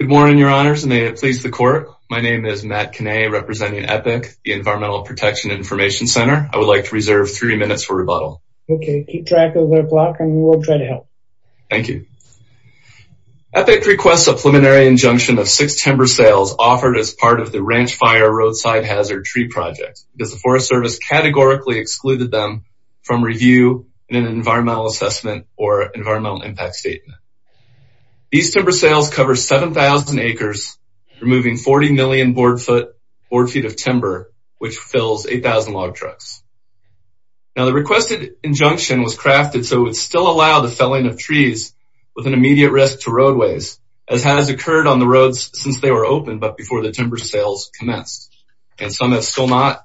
Good morning your honors and may it please the court. My name is Matt Kinney representing EPIC, the Environmental Protection Information Center. I would like to reserve three minutes for rebuttal. Okay keep track of their block and we will try to help. Thank you. EPIC requests a preliminary injunction of six timber sales offered as part of the Ranch Fire Roadside Hazard Tree Project because the Forest Service categorically excluded them from review in an environmental assessment or sales cover 7,000 acres removing 40 million board foot board feet of timber which fills 8,000 log trucks. Now the requested injunction was crafted so it would still allow the felling of trees with an immediate risk to roadways as has occurred on the roads since they were open but before the timber sales commenced and some have still not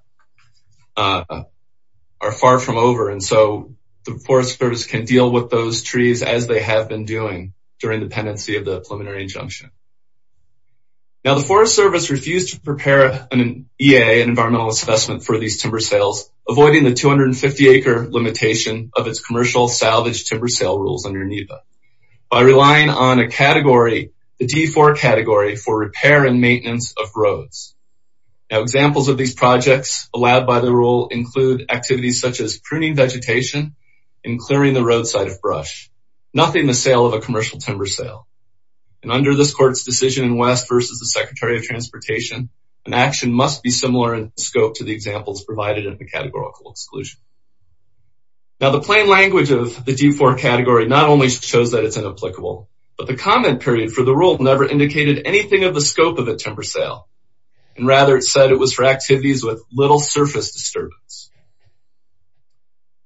are far from over and so the Forest Service can deal with those trees as they have been doing during the pendency of the preliminary injunction. Now the Forest Service refused to prepare an EA an environmental assessment for these timber sales avoiding the 250 acre limitation of its commercial salvage timber sale rules under NEPA by relying on a category the D4 category for repair and maintenance of roads. Now examples of these projects allowed by the rule include activities such as pruning vegetation and clearing the roadside of brush nothing the sale of a commercial timber sale and under this court's decision in West versus the Secretary of Transportation an action must be similar in scope to the examples provided in the categorical exclusion. Now the plain language of the D4 category not only shows that it's inapplicable but the comment period for the rule never indicated anything of the scope of a timber sale and rather it said it was for activities with little surface disturbance.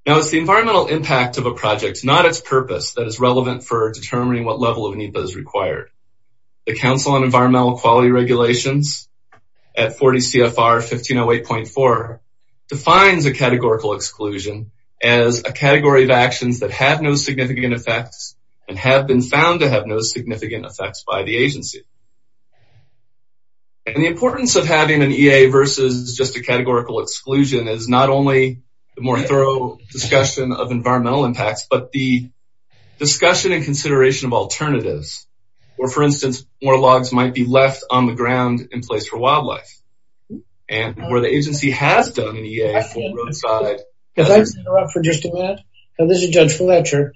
Now it's the environmental impact of a project not its purpose that is relevant for determining what level of NEPA is required. The Council on Environmental Quality Regulations at 40 CFR 1508.4 defines a categorical exclusion as a category of actions that have no significant effects and have been found to have no significant effects by the agency. And the importance of having an EA versus just a categorical exclusion is not only the more thorough discussion of environmental impacts but the discussion and consideration of alternatives or for instance more logs might be left on the ground in place for wildlife and where the agency has done an EA for roadside. If I interrupt for just a minute and this is Judge Fletcher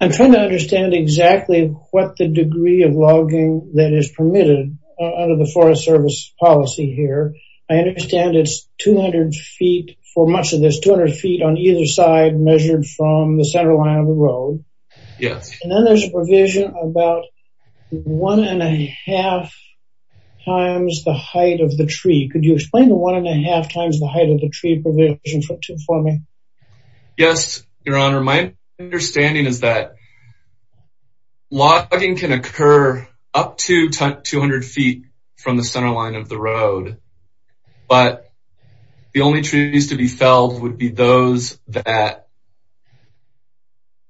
I'm trying to understand exactly what the degree of logging that is permitted under the Forest Service policy here. I understand it's 200 feet for much of this 200 feet on either side measured from the center line of the road. Yes. And then there's a provision about one and a half times the height of the tree. Could you explain the one and a half times the height of the tree provision for me? Yes your honor my understanding is that logging can occur up to 200 feet from the center line of the road but the only trees to be felled would be those that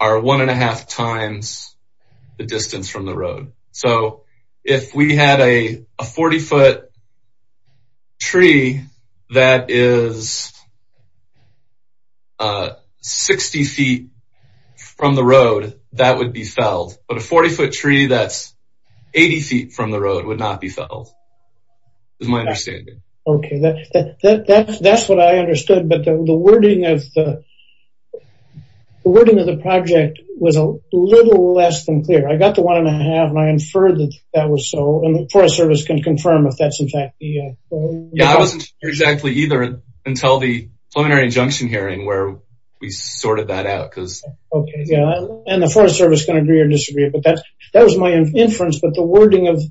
are one and a half times the distance from the road. So if we had a 40 foot tree that is 60 feet from the road that would be felled but a 40 foot tree that's 80 feet from the road would not be felled is my understanding. Okay that's what I understood but the wording of the project was a little less than clear. I got the one and a half and I inferred that that was so and the Forest Service can confirm if that's in fact the yeah I wasn't sure exactly either until the preliminary injunction hearing where we sorted that out because okay yeah and the Forest Service can agree or disagree but that that was my inference but the wording of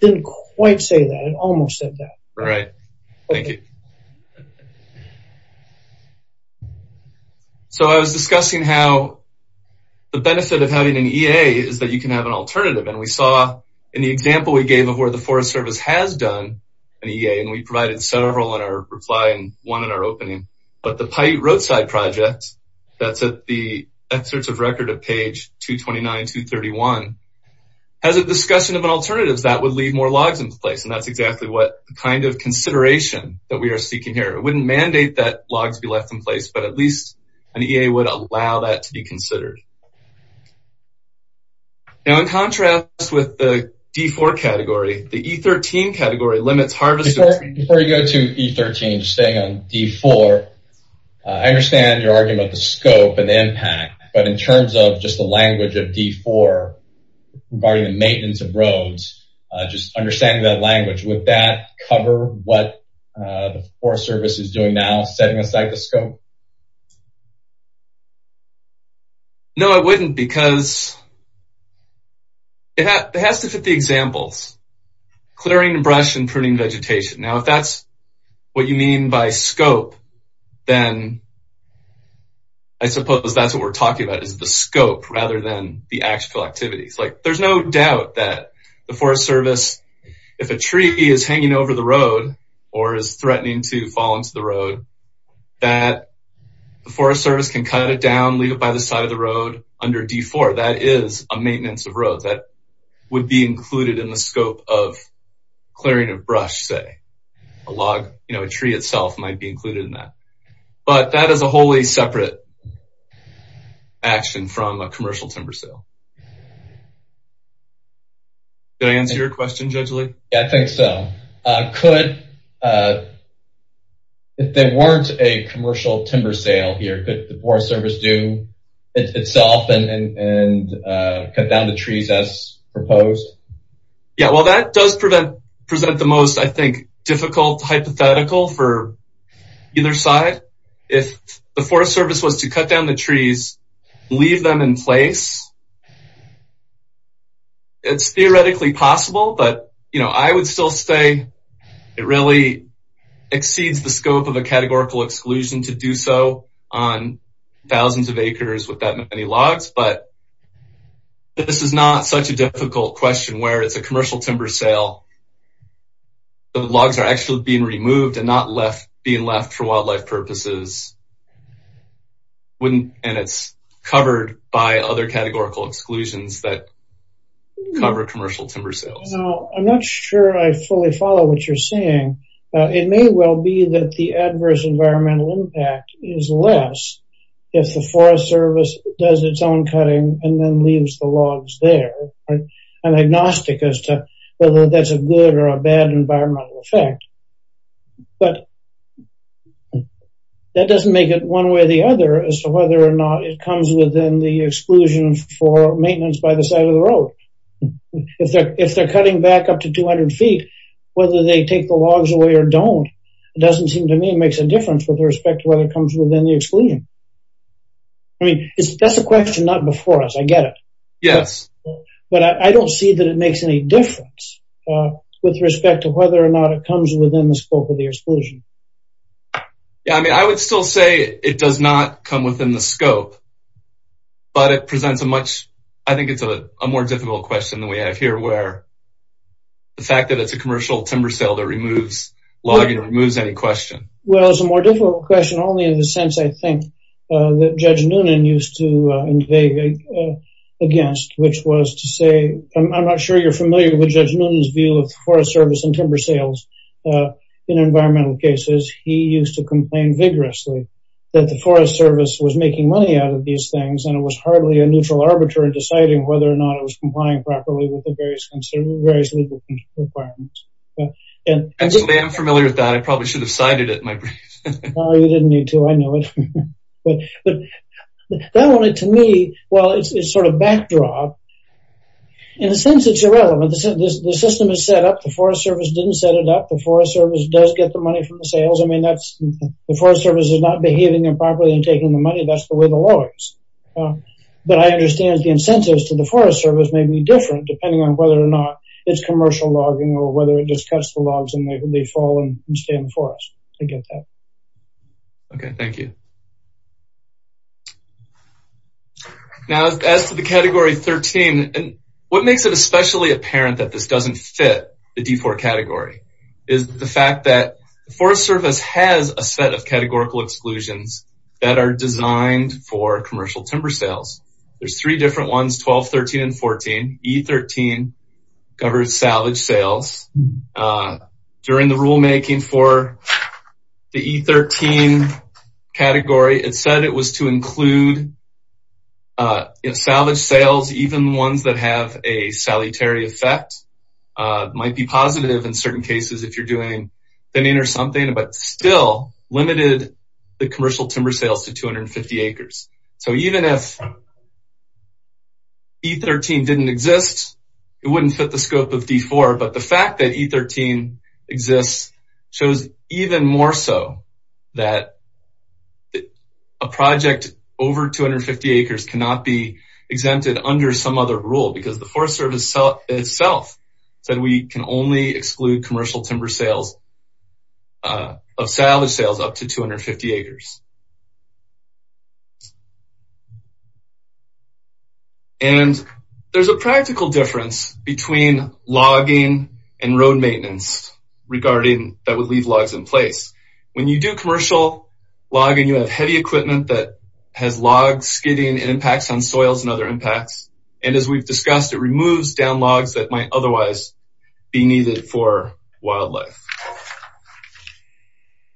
didn't quite say that it almost said that. Right thank you. So I was discussing how the benefit of having an EA is that you can have an alternative and we saw in the example we gave of where the Forest Service has done an EA and we provided several in our reply and one in our opening but the Paiute Roadside Project that's at the excerpts of record at page 229-231 has a discussion of an alternative that would leave more logs in place and that's exactly what kind of consideration that we are seeking here. It wouldn't mandate that logs be left in place but at least an EA would allow that to be considered. Now in contrast with the D4 category, the E13 category limits harvest... Before you go to E13, just staying on D4, I understand your argument the scope and impact but in terms of just the language of D4 regarding the maintenance of roads, just understanding that language would that cover what the Forest Service is doing now setting aside the scope? No, it wouldn't because it has to fit the examples. Clearing brush and pruning vegetation. Now if that's what you mean by scope then I suppose that's what we're talking about is the scope rather than the actual activities. Like there's no doubt that the Forest Service, if a tree is hanging over the that the Forest Service can cut it down, leave it by the side of the road under D4. That is a maintenance of road that would be included in the scope of clearing of brush say. A log, you know, a tree itself might be included in that but that is a wholly separate action from a commercial timber sale. Did I answer your question Judge Lee? Yeah, I think so. Could, if there weren't a commercial timber sale here, could the Forest Service do itself and cut down the trees as proposed? Yeah, well that does present the most, I think, difficult hypothetical for either side. If the Forest Service was to cut down the trees, leave them in place, it's theoretically possible but, you know, I would still say it really exceeds the scope of a categorical exclusion to do so on thousands of acres with that many logs. But this is not such a difficult question where it's a commercial timber sale. The logs are actually being removed and not being left for wildlife purposes and it's covered by other categorical exclusions that cover commercial timber sales. Now, I'm not sure I fully follow what you're saying. It may well be that the adverse environmental impact is less if the Forest Service does its own cutting and then leaves the logs there and agnostic as to whether that's a good or a bad environmental effect. But that doesn't make it one way or the other as to whether or not it comes within the exclusion for maintenance by the side of the road. If they're cutting back up to 200 feet, whether they take the logs away or don't, it doesn't seem to me it makes a difference with respect to whether it comes within the exclusion. I mean, that's a question not before us, I get it. But I don't see that it makes any difference with respect to whether or not it comes within the scope of the exclusion. Yeah, I mean, I would still say it does not come within the scope, but it presents a much, I think it's a more difficult question than we have here where the fact that it's a commercial timber sale that removes logging removes any question. Well, it's a more difficult question only in the sense, I think, that Judge Noonan used to invade against, which was to say, I'm not sure you're familiar with Judge Noonan's view of the Forest Service and timber sales in environmental cases. He used to complain vigorously that the Forest Service was making money out of these things and it was hardly a neutral arbiter deciding whether or not it was complying properly with the various legal requirements. Actually, I'm familiar with that. I probably should have cited it in my brief. Oh, you didn't need to. I knew it. But that one, to me, well, it's sort of backdrop. In a sense, it's irrelevant. The system is set up. The Forest Service didn't set it up. The Forest Service does get the money from the sales. I mean, the Forest Service is not behaving improperly and taking the money. That's the way the law is. But I understand the incentives to the Forest Service may be different depending on whether or not it's commercial logging or it just cuts the logs and they fall and stay in the forest. I get that. Okay, thank you. Now, as to the Category 13, what makes it especially apparent that this doesn't fit the D4 category is the fact that the Forest Service has a set of categorical exclusions that are designed for commercial timber sales. There's three different ones, 12, 13, and 14. E13 covers salvage sales. During the rulemaking for the E13 category, it said it was to include salvage sales, even ones that have a salutary effect. It might be positive in certain cases if you're doing thinning or something, but still limited the commercial timber sales to 250 acres. So even if E13 didn't exist, it wouldn't fit the scope of D4. But the fact that E13 exists shows even more so that a project over 250 acres cannot be exempted under some other rule because the Forest Service itself said we can only exclude commercial timber sales of salvage sales up to 250 acres. And there's a practical difference between logging and road maintenance regarding that would leave logs in place. When you do commercial logging, you have heavy equipment that has logs skidding and impacts on soils and other impacts. And as we've discussed, it removes down logs that might otherwise be needed for wildlife.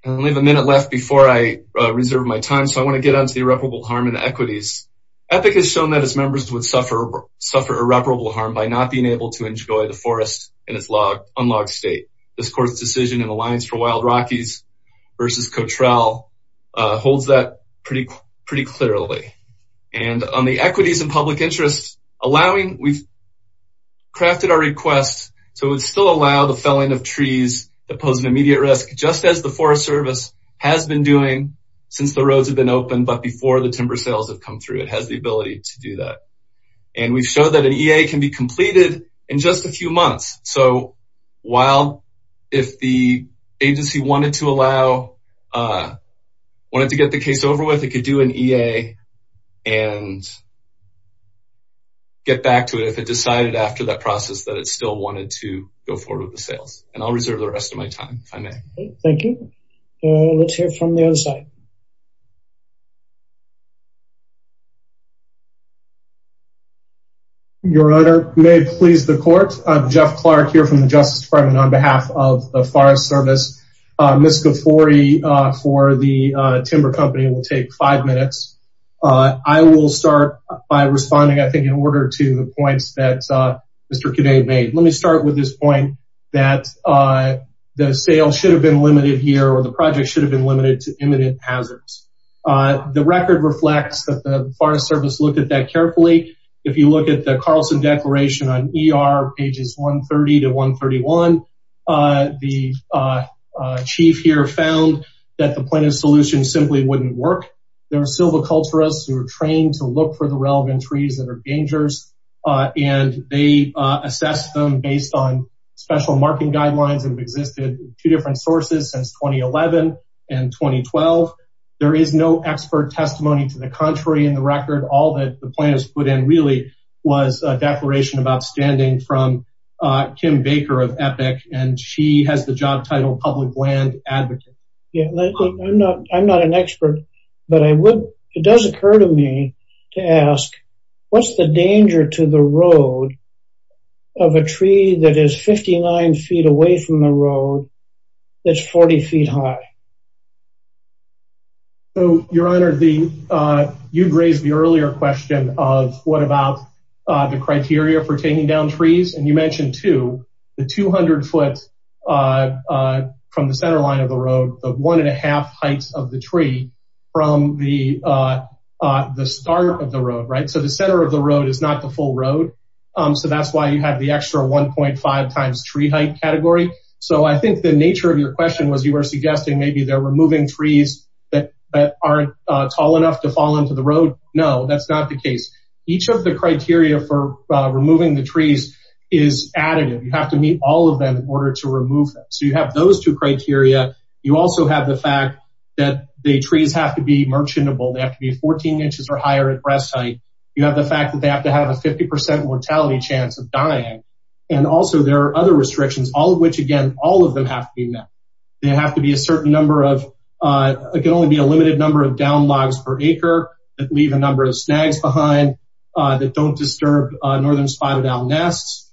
I only have a minute left before I reserve my time. So I want to get on to the irreparable harm and equities. EPIC has shown that its members would suffer irreparable harm by not being able to enjoy the forest in its unlogged state. This court's decision in Alliance for Wild Rockies versus Cotrell holds that pretty clearly. And on the equities and public interests, we've crafted our request so it would still allow the felling of trees that pose an immediate risk, just as the Forest Service has been doing since the roads have been opened, but before the timber sales have come through. It has the ability to do that. And we've shown that an EA can be completed in just a few months. So while if the agency wanted to allow, wanted to get the case over with, it could do an EA and get back to it if it decided after that process that it still wanted to go forward with the sales. And I'll reserve the rest of my time if I may. Thank you. Let's hear from the other side. Your Honor, may it please the court. Jeff Clark here from the Justice Department on behalf of Forest Service. Ms. Ghaffori for the timber company will take five minutes. I will start by responding, I think, in order to the points that Mr. Kinne made. Let me start with this point that the sales should have been limited here or the project should have been limited to imminent hazards. The record reflects that the Forest Service looked at that carefully. If you look at the Carlson Declaration on ER pages 130 to 131, the chief here found that the plaintiff's solution simply wouldn't work. There were silviculturists who were trained to look for the relevant trees that are dangerous. And they assessed them based on special marking guidelines that have existed in two different sources since 2011 and 2012. There is no expert testimony to the contrary in the record. All that the plaintiff's put in really was a declaration about standing from Kim Baker of EPIC. And she has the job title public land advocate. Yeah, I'm not an expert, but it does occur to me to ask, what's the danger to the road of a tree that is 59 feet away from the road that's 40 feet high? So, your honor, you'd raised the earlier question of what about the criteria for taking down trees. And you mentioned too, the 200 foot from the center line of the road, the one and a half heights of the tree from the start of the road, right? So the center of the road is not the full road. So that's why you have the extra 1.5 times tree height category. So I think the nature of your question was you were suggesting maybe they're removing trees that aren't tall enough to fall into the road. No, that's not the case. Each of the criteria for removing the trees is additive. You have to meet all of them in order to remove them. So you have those two criteria. You also have the fact that the trees have to be merchantable. They have to be 14 inches or higher at breast height. You have the fact that they have to have a 50% mortality chance of dying. And also there are other restrictions, all of which again, all of them have to be met. They have to be a certain number of, it can only be a limited number of down logs per acre that leave a number of snags behind that don't disturb northern spotted owl nests.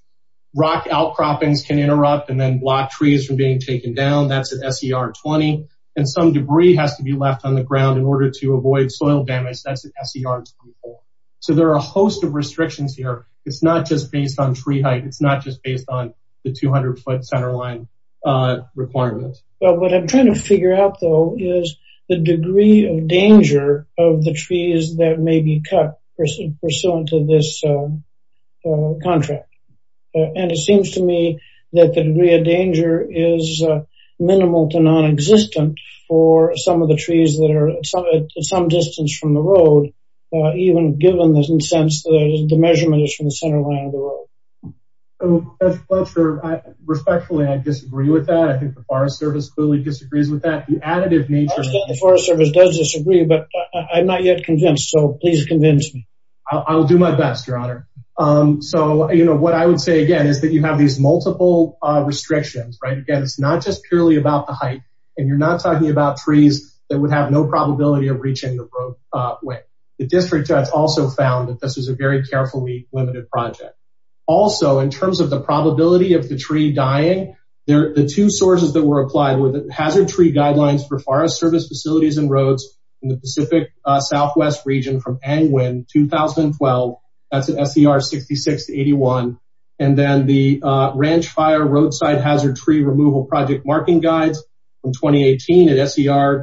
Rock outcroppings can interrupt and then block trees from being taken down. That's an SER 20. And some debris has to be left on the ground in order to avoid soil damage. That's an SER 24. So there are a host of restrictions here. It's not just based on tree height. It's not just based on the 200 foot center line requirements. But what I'm trying to figure out though, is the degree of danger of the trees that may be cut pursuant to this contract. And it seems to me that the degree of danger is minimal to non-existent for some of the trees that are at some distance from the road, even given the sense that the measurement is from the center line of the road. So, Mr. Fletcher, respectfully, I disagree with that. I think the Forest Service clearly disagrees with that. The additive nature... I understand the Forest Service does disagree, but I'm not yet convinced. So please convince me. I'll do my best, your honor. So, you know, what I would say again, is that you have these multiple restrictions, right? Again, it's not just purely about the height. And you're not talking about trees that would have no probability of reaching the roadway. The district has also found that this is a very carefully limited project. Also, in terms of the probability of the tree dying, the two sources that were applied were the Hazard Tree Guidelines for Forest Service Facilities and Roads in the Pacific Southwest region from Angwin, 2012. That's an SCR 66-81. And then the SCR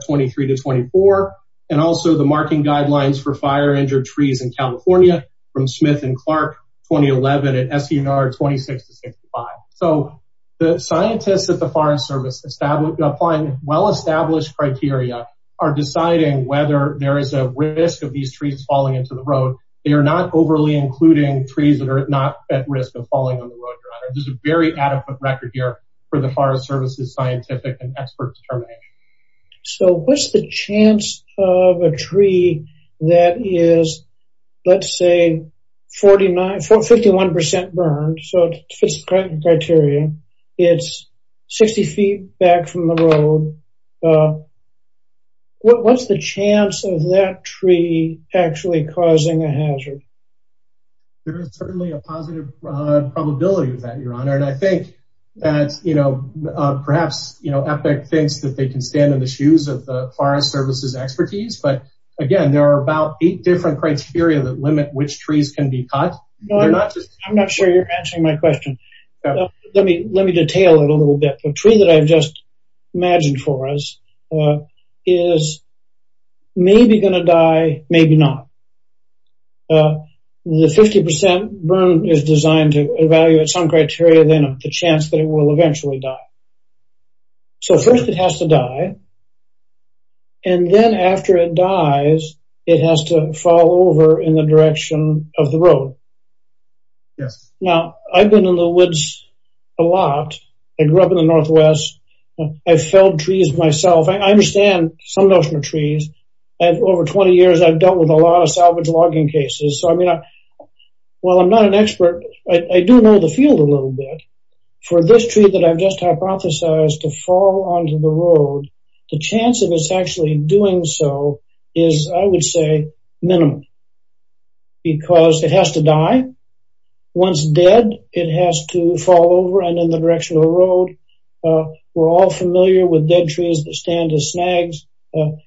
23-24. And also the Marking Guidelines for Fire-Injured Trees in California from Smith and Clark, 2011 at SCR 26-65. So the scientists at the Forest Service applying well-established criteria are deciding whether there is a risk of these trees falling into the road. They are not overly including trees that are not at risk of falling on the road, your honor. There's a very adequate record here for the Forest Service's scientific and expert determination. So what's the chance of a tree that is, let's say, 51% burned, so it fits the criteria. It's 60 feet back from the road. What's the chance of that tree actually causing a hazard? There is certainly a positive probability of that, your honor. And I think that perhaps EPIC thinks that they can stand in the shoes of the Forest Service's expertise. But again, there are about eight different criteria that limit which trees can be cut. I'm not sure you're answering my question. Let me detail it a little bit. The tree that I've just imagined for us is maybe going to die, maybe not. The 50% burn is designed to evaluate some criteria, then the chance that it will eventually die. So first it has to die. And then after it dies, it has to fall over in the direction of the road. Yes. Now, I've been in the woods a lot. I grew up in the Northwest. I felled trees myself. I salvaged logging cases. So I mean, while I'm not an expert, I do know the field a little bit. For this tree that I've just hypothesized to fall onto the road, the chance of it's actually doing so is, I would say, minimum. Because it has to die. Once dead, it has to fall over and in the direction of the road. We're all familiar with dead trees that stand as snags.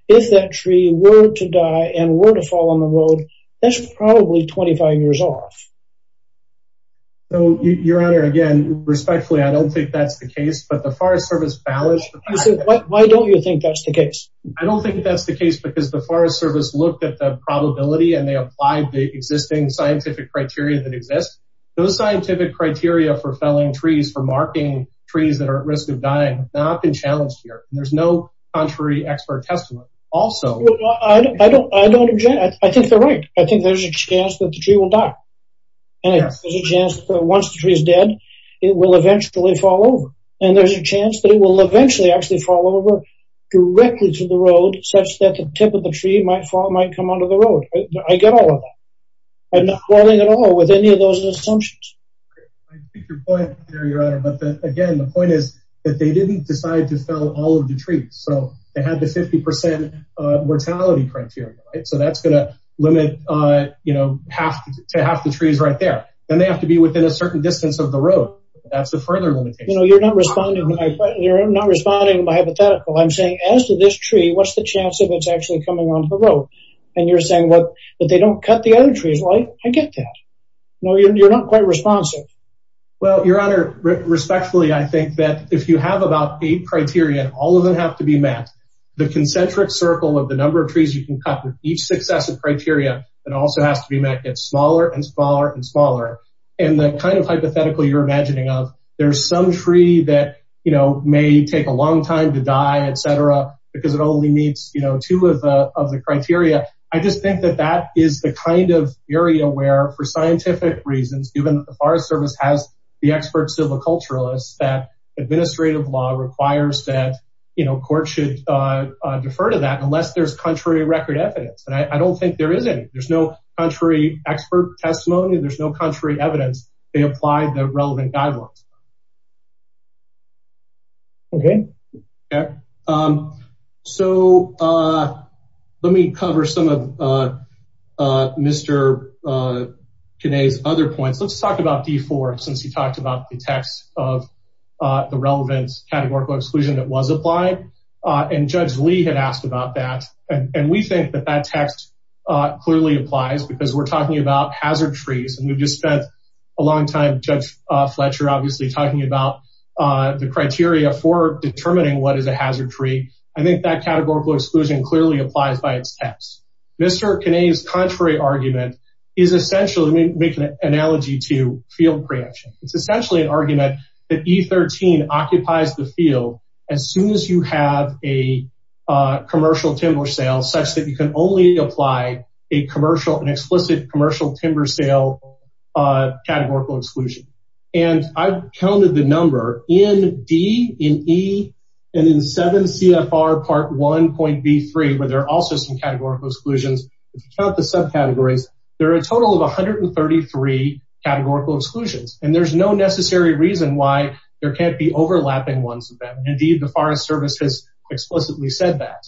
If that tree were to die and were to fall on the road, that's probably 25 years off. So, Your Honor, again, respectfully, I don't think that's the case. But the Forest Service balanced... Why don't you think that's the case? I don't think that's the case because the Forest Service looked at the probability and they applied the existing scientific criteria that exist. Those scientific criteria for felling trees, for marking trees that are at risk of also... I think they're right. I think there's a chance that the tree will die. And there's a chance that once the tree is dead, it will eventually fall over. And there's a chance that it will eventually actually fall over directly to the road, such that the tip of the tree might fall, might come onto the road. I get all of that. I'm not falling at all with any of those assumptions. I get your point there, Your Honor. But again, the point is that they didn't decide to fell all of the trees. So they had the 50% mortality criteria. So that's going to limit to half the trees right there. Then they have to be within a certain distance of the road. That's a further limitation. You're not responding by hypothetical. I'm saying, as to this tree, what's the chance of it's actually coming onto the road? And you're saying that they don't cut the other trees. I get that. You're not quite responsive. Well, Your Honor, respectfully, I think that if you have about eight criteria, all of them have to be met. The concentric circle of the number of trees you can cut with each successive criteria, it also has to be met, gets smaller and smaller and smaller. And the kind of hypothetical you're imagining of, there's some tree that may take a long time to die, et cetera, because it only meets two of the criteria. I just think that that is the kind of area where, for scientific reasons, given that the Forest Service has the expert civil culturalists, that administrative law requires that courts should defer to that unless there's contrary record evidence. And I don't think there is any. There's no contrary expert testimony. There's no contrary evidence. They apply the relevant guidelines. Okay. Okay. So let me cover some of Mr. Kinney's other points. Let's talk about D4, since you talked about the text of the relevant categorical exclusion that was applied. And Judge Lee had asked about that. And we think that that text clearly applies because we're talking about hazard trees. And we've just spent a long time, Judge Fletcher, obviously talking about the determining what is a hazard tree. I think that categorical exclusion clearly applies by its text. Mr. Kinney's contrary argument is essentially making an analogy to field preemption. It's essentially an argument that E13 occupies the field as soon as you have a commercial timber sale such that you can only apply an explicit commercial timber sale categorical exclusion. And I've counted the number in D, in E, and in 7 CFR Part 1.B3, where there are also some categorical exclusions. If you count the subcategories, there are a total of 133 categorical exclusions. And there's no necessary reason why there can't be overlapping ones. Indeed, the Forest Service has explicitly said that.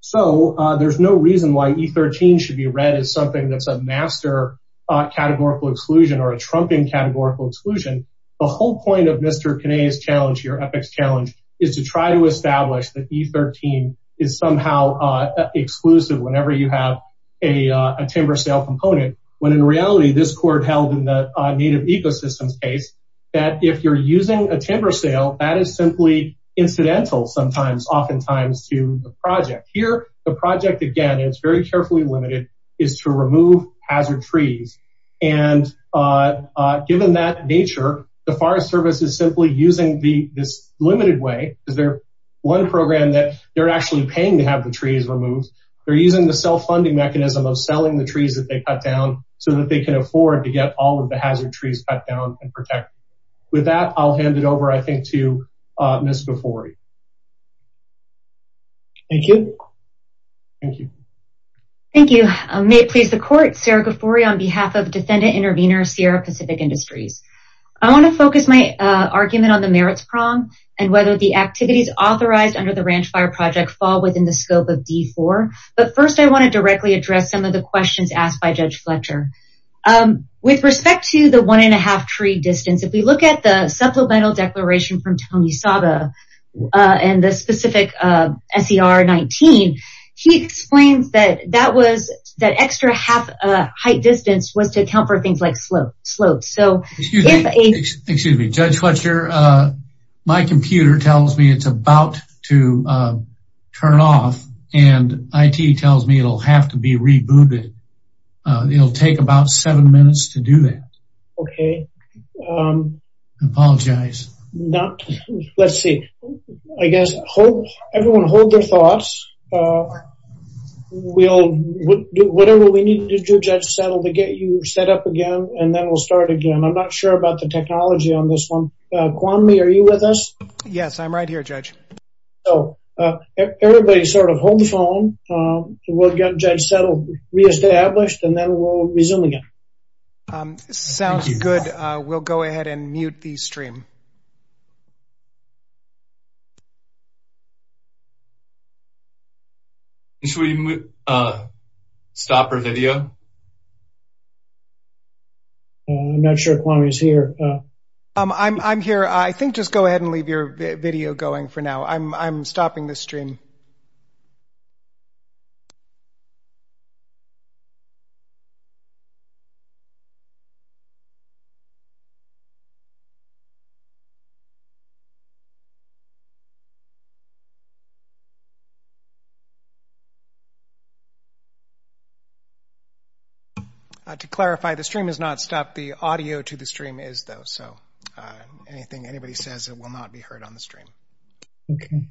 So there's no reason why E13 should be something that's a master categorical exclusion or a trumping categorical exclusion. The whole point of Mr. Kinney's challenge, your ethics challenge, is to try to establish that E13 is somehow exclusive whenever you have a timber sale component. When in reality, this court held in the Native Ecosystems case, that if you're using a timber sale, that is simply incidental oftentimes to the project. Here, the project, again, it's very carefully limited, is to remove hazard trees. And given that nature, the Forest Service is simply using this limited way, because they're one program that they're actually paying to have the trees removed. They're using the self-funding mechanism of selling the trees that they cut down so that they can afford to get all of the hazard trees cut down and protected. With that, I'll hand it over, I think, to Ms. Gufori. Thank you. Thank you. Thank you. May it please the court, Sarah Gufori, on behalf of Defendant Intervenor Sierra Pacific Industries. I want to focus my argument on the merits prong and whether the activities authorized under the Ranch Fire Project fall within the scope of D4. But first, I want to directly address some of the questions asked by Judge Fletcher. With respect to the one and a half tree distance, if we look at the supplemental declaration from Tony Saba and the specific SER 19, he explains that that extra half height distance was to account for things like slopes. So if a... Excuse me, Judge Fletcher, my computer tells me it's rebooted. It'll take about seven minutes to do that. Okay. Apologize. Not... Let's see. I guess everyone hold their thoughts. We'll do whatever we need to do, Judge Settle, to get you set up again. And then we'll start again. I'm not sure about the technology on this one. Kwame, are you with us? Yes, I'm right here, Judge. So everybody sort of hold the phone. We'll get Judge Settle reestablished and then we'll resume again. Sounds good. We'll go ahead and mute the stream. Should we stop our video? I'm not sure Kwame's here. I'm here. I think just go ahead and leave your video going for now. I'm stopping the stream. To clarify, the stream is not stopped. The audio to the stream is though. So anything anybody says, it will not be heard on the stream. Okay.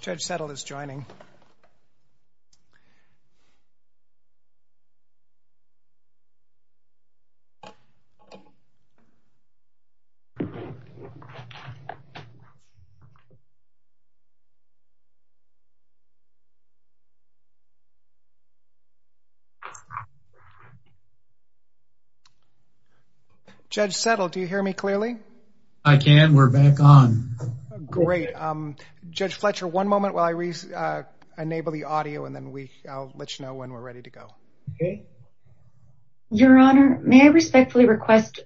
Judge Settle is joining. Judge Settle, do you hear me clearly? I can. We're back on. Great. Judge Fletcher, one moment while I re-enable the audio and then I'll let you know when we're ready to go. Okay. Your Honor, may I respectfully request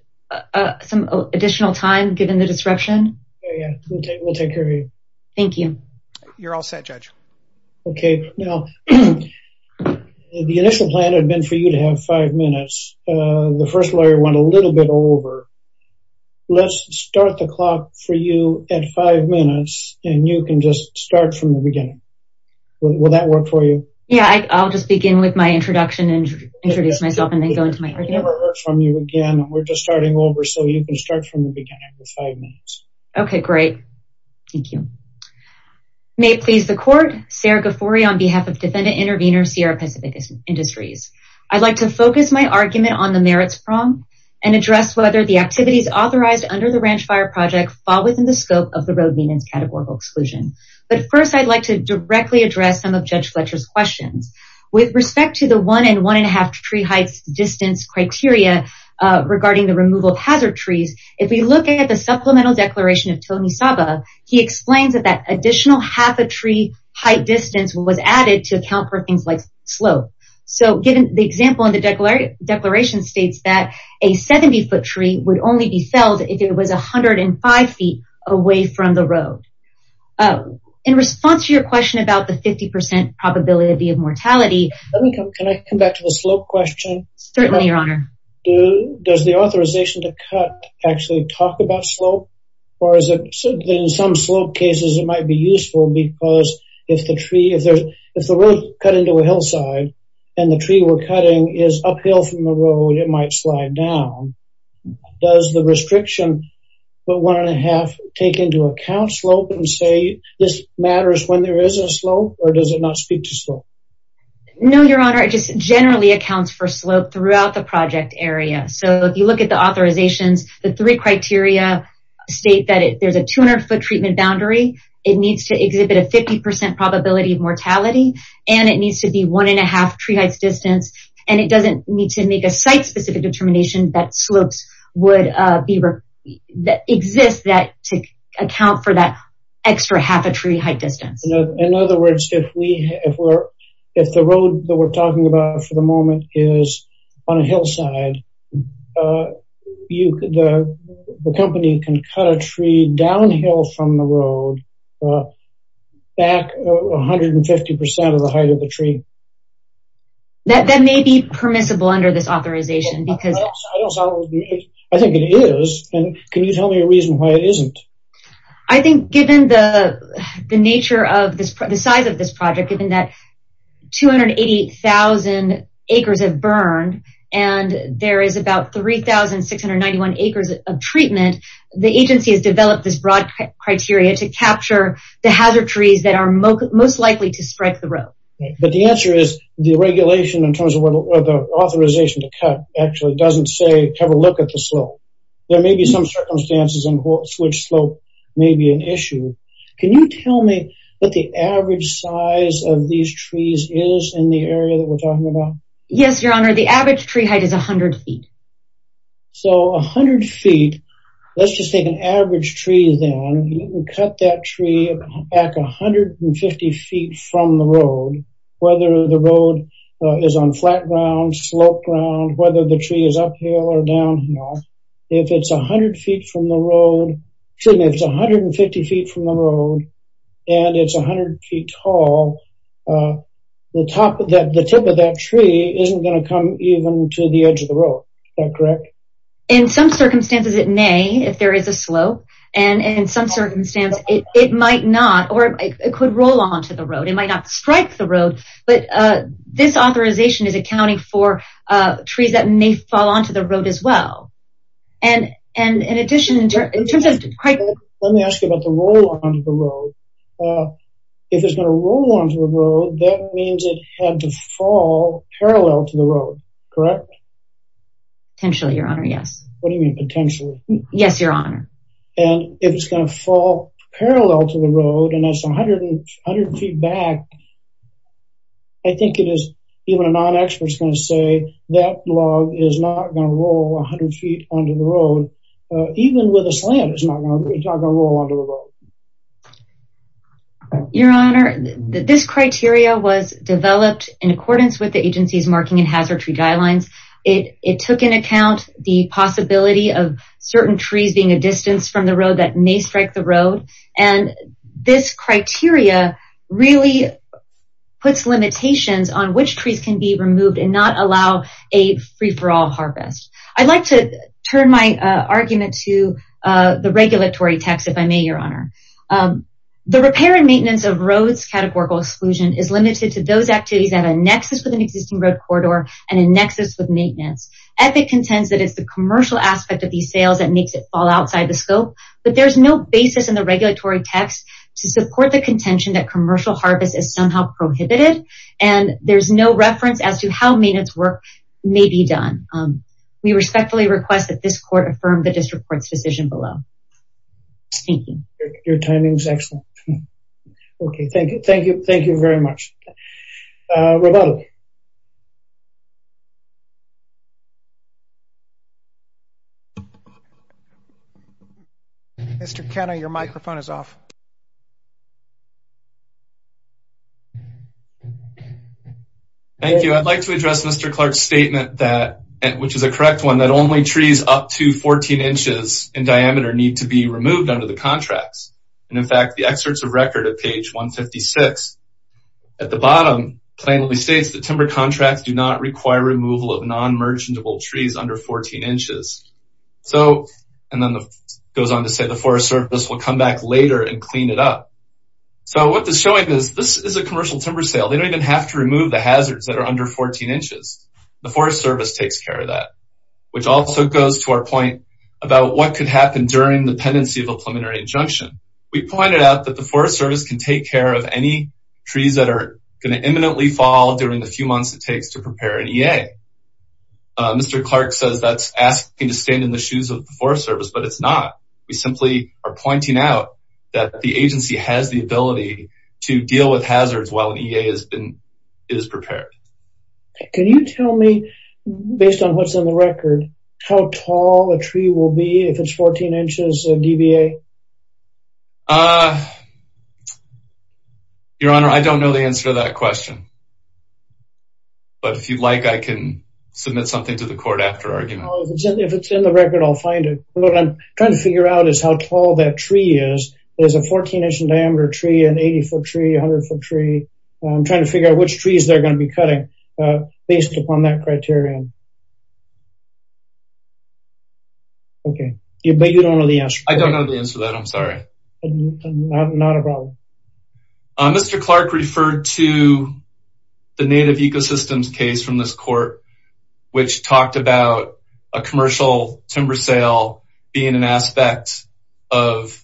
some additional time given the disruption? Yeah, we'll take care of you. Thank you. You're all set, Judge. Okay. Now, the initial plan had been for you to have five minutes. The first lawyer went a little bit over. Let's start the clock for you at five minutes and you can just start from the beginning. Will that work for you? Yeah, I'll just begin with my introduction and introduce myself and then go into my argument. I've never heard from you again. We're just starting over. So you can start from the beginning with five minutes. Okay, great. Thank you. May it please the court, Sarah Ghaffori on behalf of Defendant Intervenor Sierra Pacific Industries. I'd like to focus my activities authorized under the Ranch Fire Project fall within the scope of the road venant's categorical exclusion. But first, I'd like to directly address some of Judge Fletcher's questions. With respect to the one and one and a half tree heights distance criteria regarding the removal of hazard trees, if we look at the supplemental declaration of Tony Saba, he explains that that additional half a tree height distance was added to account for things like 70 foot tree would only be felled if it was 105 feet away from the road. In response to your question about the 50% probability of mortality. Can I come back to the slope question? Certainly, Your Honor. Does the authorization to cut actually talk about slope? Or is it in some slope cases, it might be useful because if the tree is there, if the road cut into a hillside, and the tree we're cutting is uphill from the road, it might slide down. Does the restriction, but one and a half take into account slope and say this matters when there is a slope? Or does it not speak to slope? No, Your Honor, it just generally accounts for slope throughout the project area. So if you look at the authorizations, the three criteria state that there's a 200 foot treatment boundary, it needs to exhibit a 50% probability of mortality, and it needs to be one and a half tree heights distance. And it doesn't need to make a site specific determination that slopes would be that exist that to account for that extra half a tree height distance. In other words, if we if we're, if the road that we're talking about for the tree, that may be permissible under this authorization, because I think it is. And can you tell me a reason why it isn't? I think given the nature of this, the size of this project, given that 280,000 acres have burned, and there is about 3,691 acres of treatment, the agency has developed this broad criteria to capture the hazard trees that are most likely to strike the road. But the answer is the regulation in terms of what the authorization to cut actually doesn't say have a look at the slope. There may be some circumstances in which slope may be an issue. Can you tell me what the average size of these trees is in the area that we're talking about? Yes, Your Honor, the average tree height is 100 feet. So 100 feet, let's just take average trees and cut that tree back 150 feet from the road, whether the road is on flat ground, slope ground, whether the tree is uphill or downhill. If it's 100 feet from the road, it's 150 feet from the road, and it's 100 feet tall. The top of that the tip of that tree isn't going to come even to the edge of the road, correct? In some circumstances, it may if there is a slope, and in some circumstance, it might not or it could roll onto the road. It might not strike the road, but this authorization is accounting for trees that may fall onto the road as well. Let me ask you about the roll onto the road. If it's going to roll onto the road, that means it had to fall parallel to the road, correct? Potentially, Your Honor, yes. What do you mean potentially? Yes, Your Honor. And if it's going to fall parallel to the road, and that's 100 feet back, I think it is even a non-expert is going to say that log is not going to roll 100 feet onto the road. Even with a slant, it's not going to roll onto the road. Your Honor, this criteria was developed in accordance with the agency's marking and possibility of certain trees being a distance from the road that may strike the road. And this criteria really puts limitations on which trees can be removed and not allow a free-for-all harvest. I'd like to turn my argument to the regulatory text, if I may, Your Honor. The repair and maintenance of roads categorical exclusion is limited to those activities that have a nexus with an existing road corridor and a nexus with maintenance. Epic contends that it's the commercial aspect of these sales that makes it fall outside the scope, but there's no basis in the regulatory text to support the contention that commercial harvest is somehow prohibited. And there's no reference as to how maintenance work may be done. We respectfully request that this court affirm the district court's decision below. Thank you. Your timing is excellent. Okay. Thank you. Thank you. Thank you very much. Mr. Kenna, your microphone is off. Thank you. I'd like to address Mr. Clark's statement that, which is a correct one, that only trees up to 14 inches in diameter need to be removed under the contracts. And in fact, the excerpts of record at page 156 at the bottom plainly states that timber contracts do not require removal of non-merchantable trees under 14 inches. So, and then the goes on to say the forest service will come back later and clean it up. So what this showing is this is a commercial timber sale. They don't even have to remove the hazards that are under 14 inches. The forest service takes care of that, which also goes to our point about what could happen during the pendency of a preliminary injunction. We pointed out that the forest service can take care of any trees that are going to imminently fall during the few months it takes to prepare an EA. Mr. Clark says that's asking to stand in the shoes of the forest service, but it's not. We simply are pointing out that the agency has the ability to deal with hazards while an EA is prepared. Can you tell me, based on what's in the record, how tall a tree will be if it's 14 inches of DBA? Your Honor, I don't know the answer to that question. But if you'd like, I can submit something to the court after argument. If it's in the record, I'll find it. What I'm trying to figure out is how tall that tree is. There's a 14 inch in diameter tree, 80 foot tree, 100 foot tree. I'm trying to figure out which trees they're going to be cutting based upon that criterion. Okay, but you don't know the answer. I don't know the answer to that. I'm sorry. Not a problem. Mr. Clark referred to the native ecosystems case from this court, which talked about a commercial timber sale being an aspect of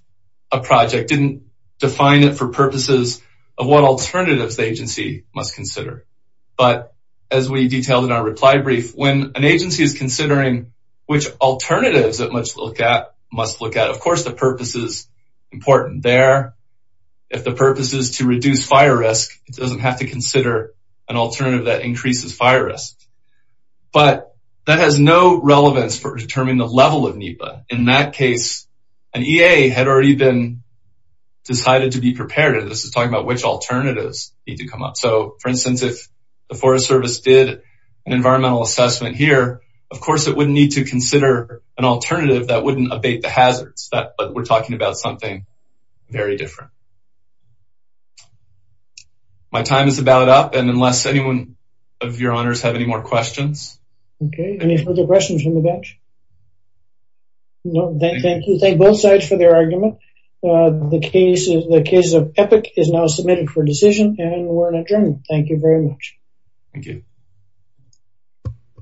a project. Didn't define it for purposes of what alternatives the agency must consider. But as we detailed in our reply brief, when an agency is considering which alternatives it must look at, of course the purpose is important there. If the purpose is to reduce fire risk, it doesn't have to consider an alternative that increases fire risk. But that has no relevance for determining the level of preparedness. This is talking about which alternatives need to come up. So for instance, if the Forest Service did an environmental assessment here, of course it wouldn't need to consider an alternative that wouldn't abate the hazards. But we're talking about something very different. My time is about up, and unless any one of your honors have any more questions? Okay, any further questions from the bench? No, thank you. Thank both sides for their argument. The case of Epic is now submitted for decision, and we're adjourned. Thank you very much. Thank you.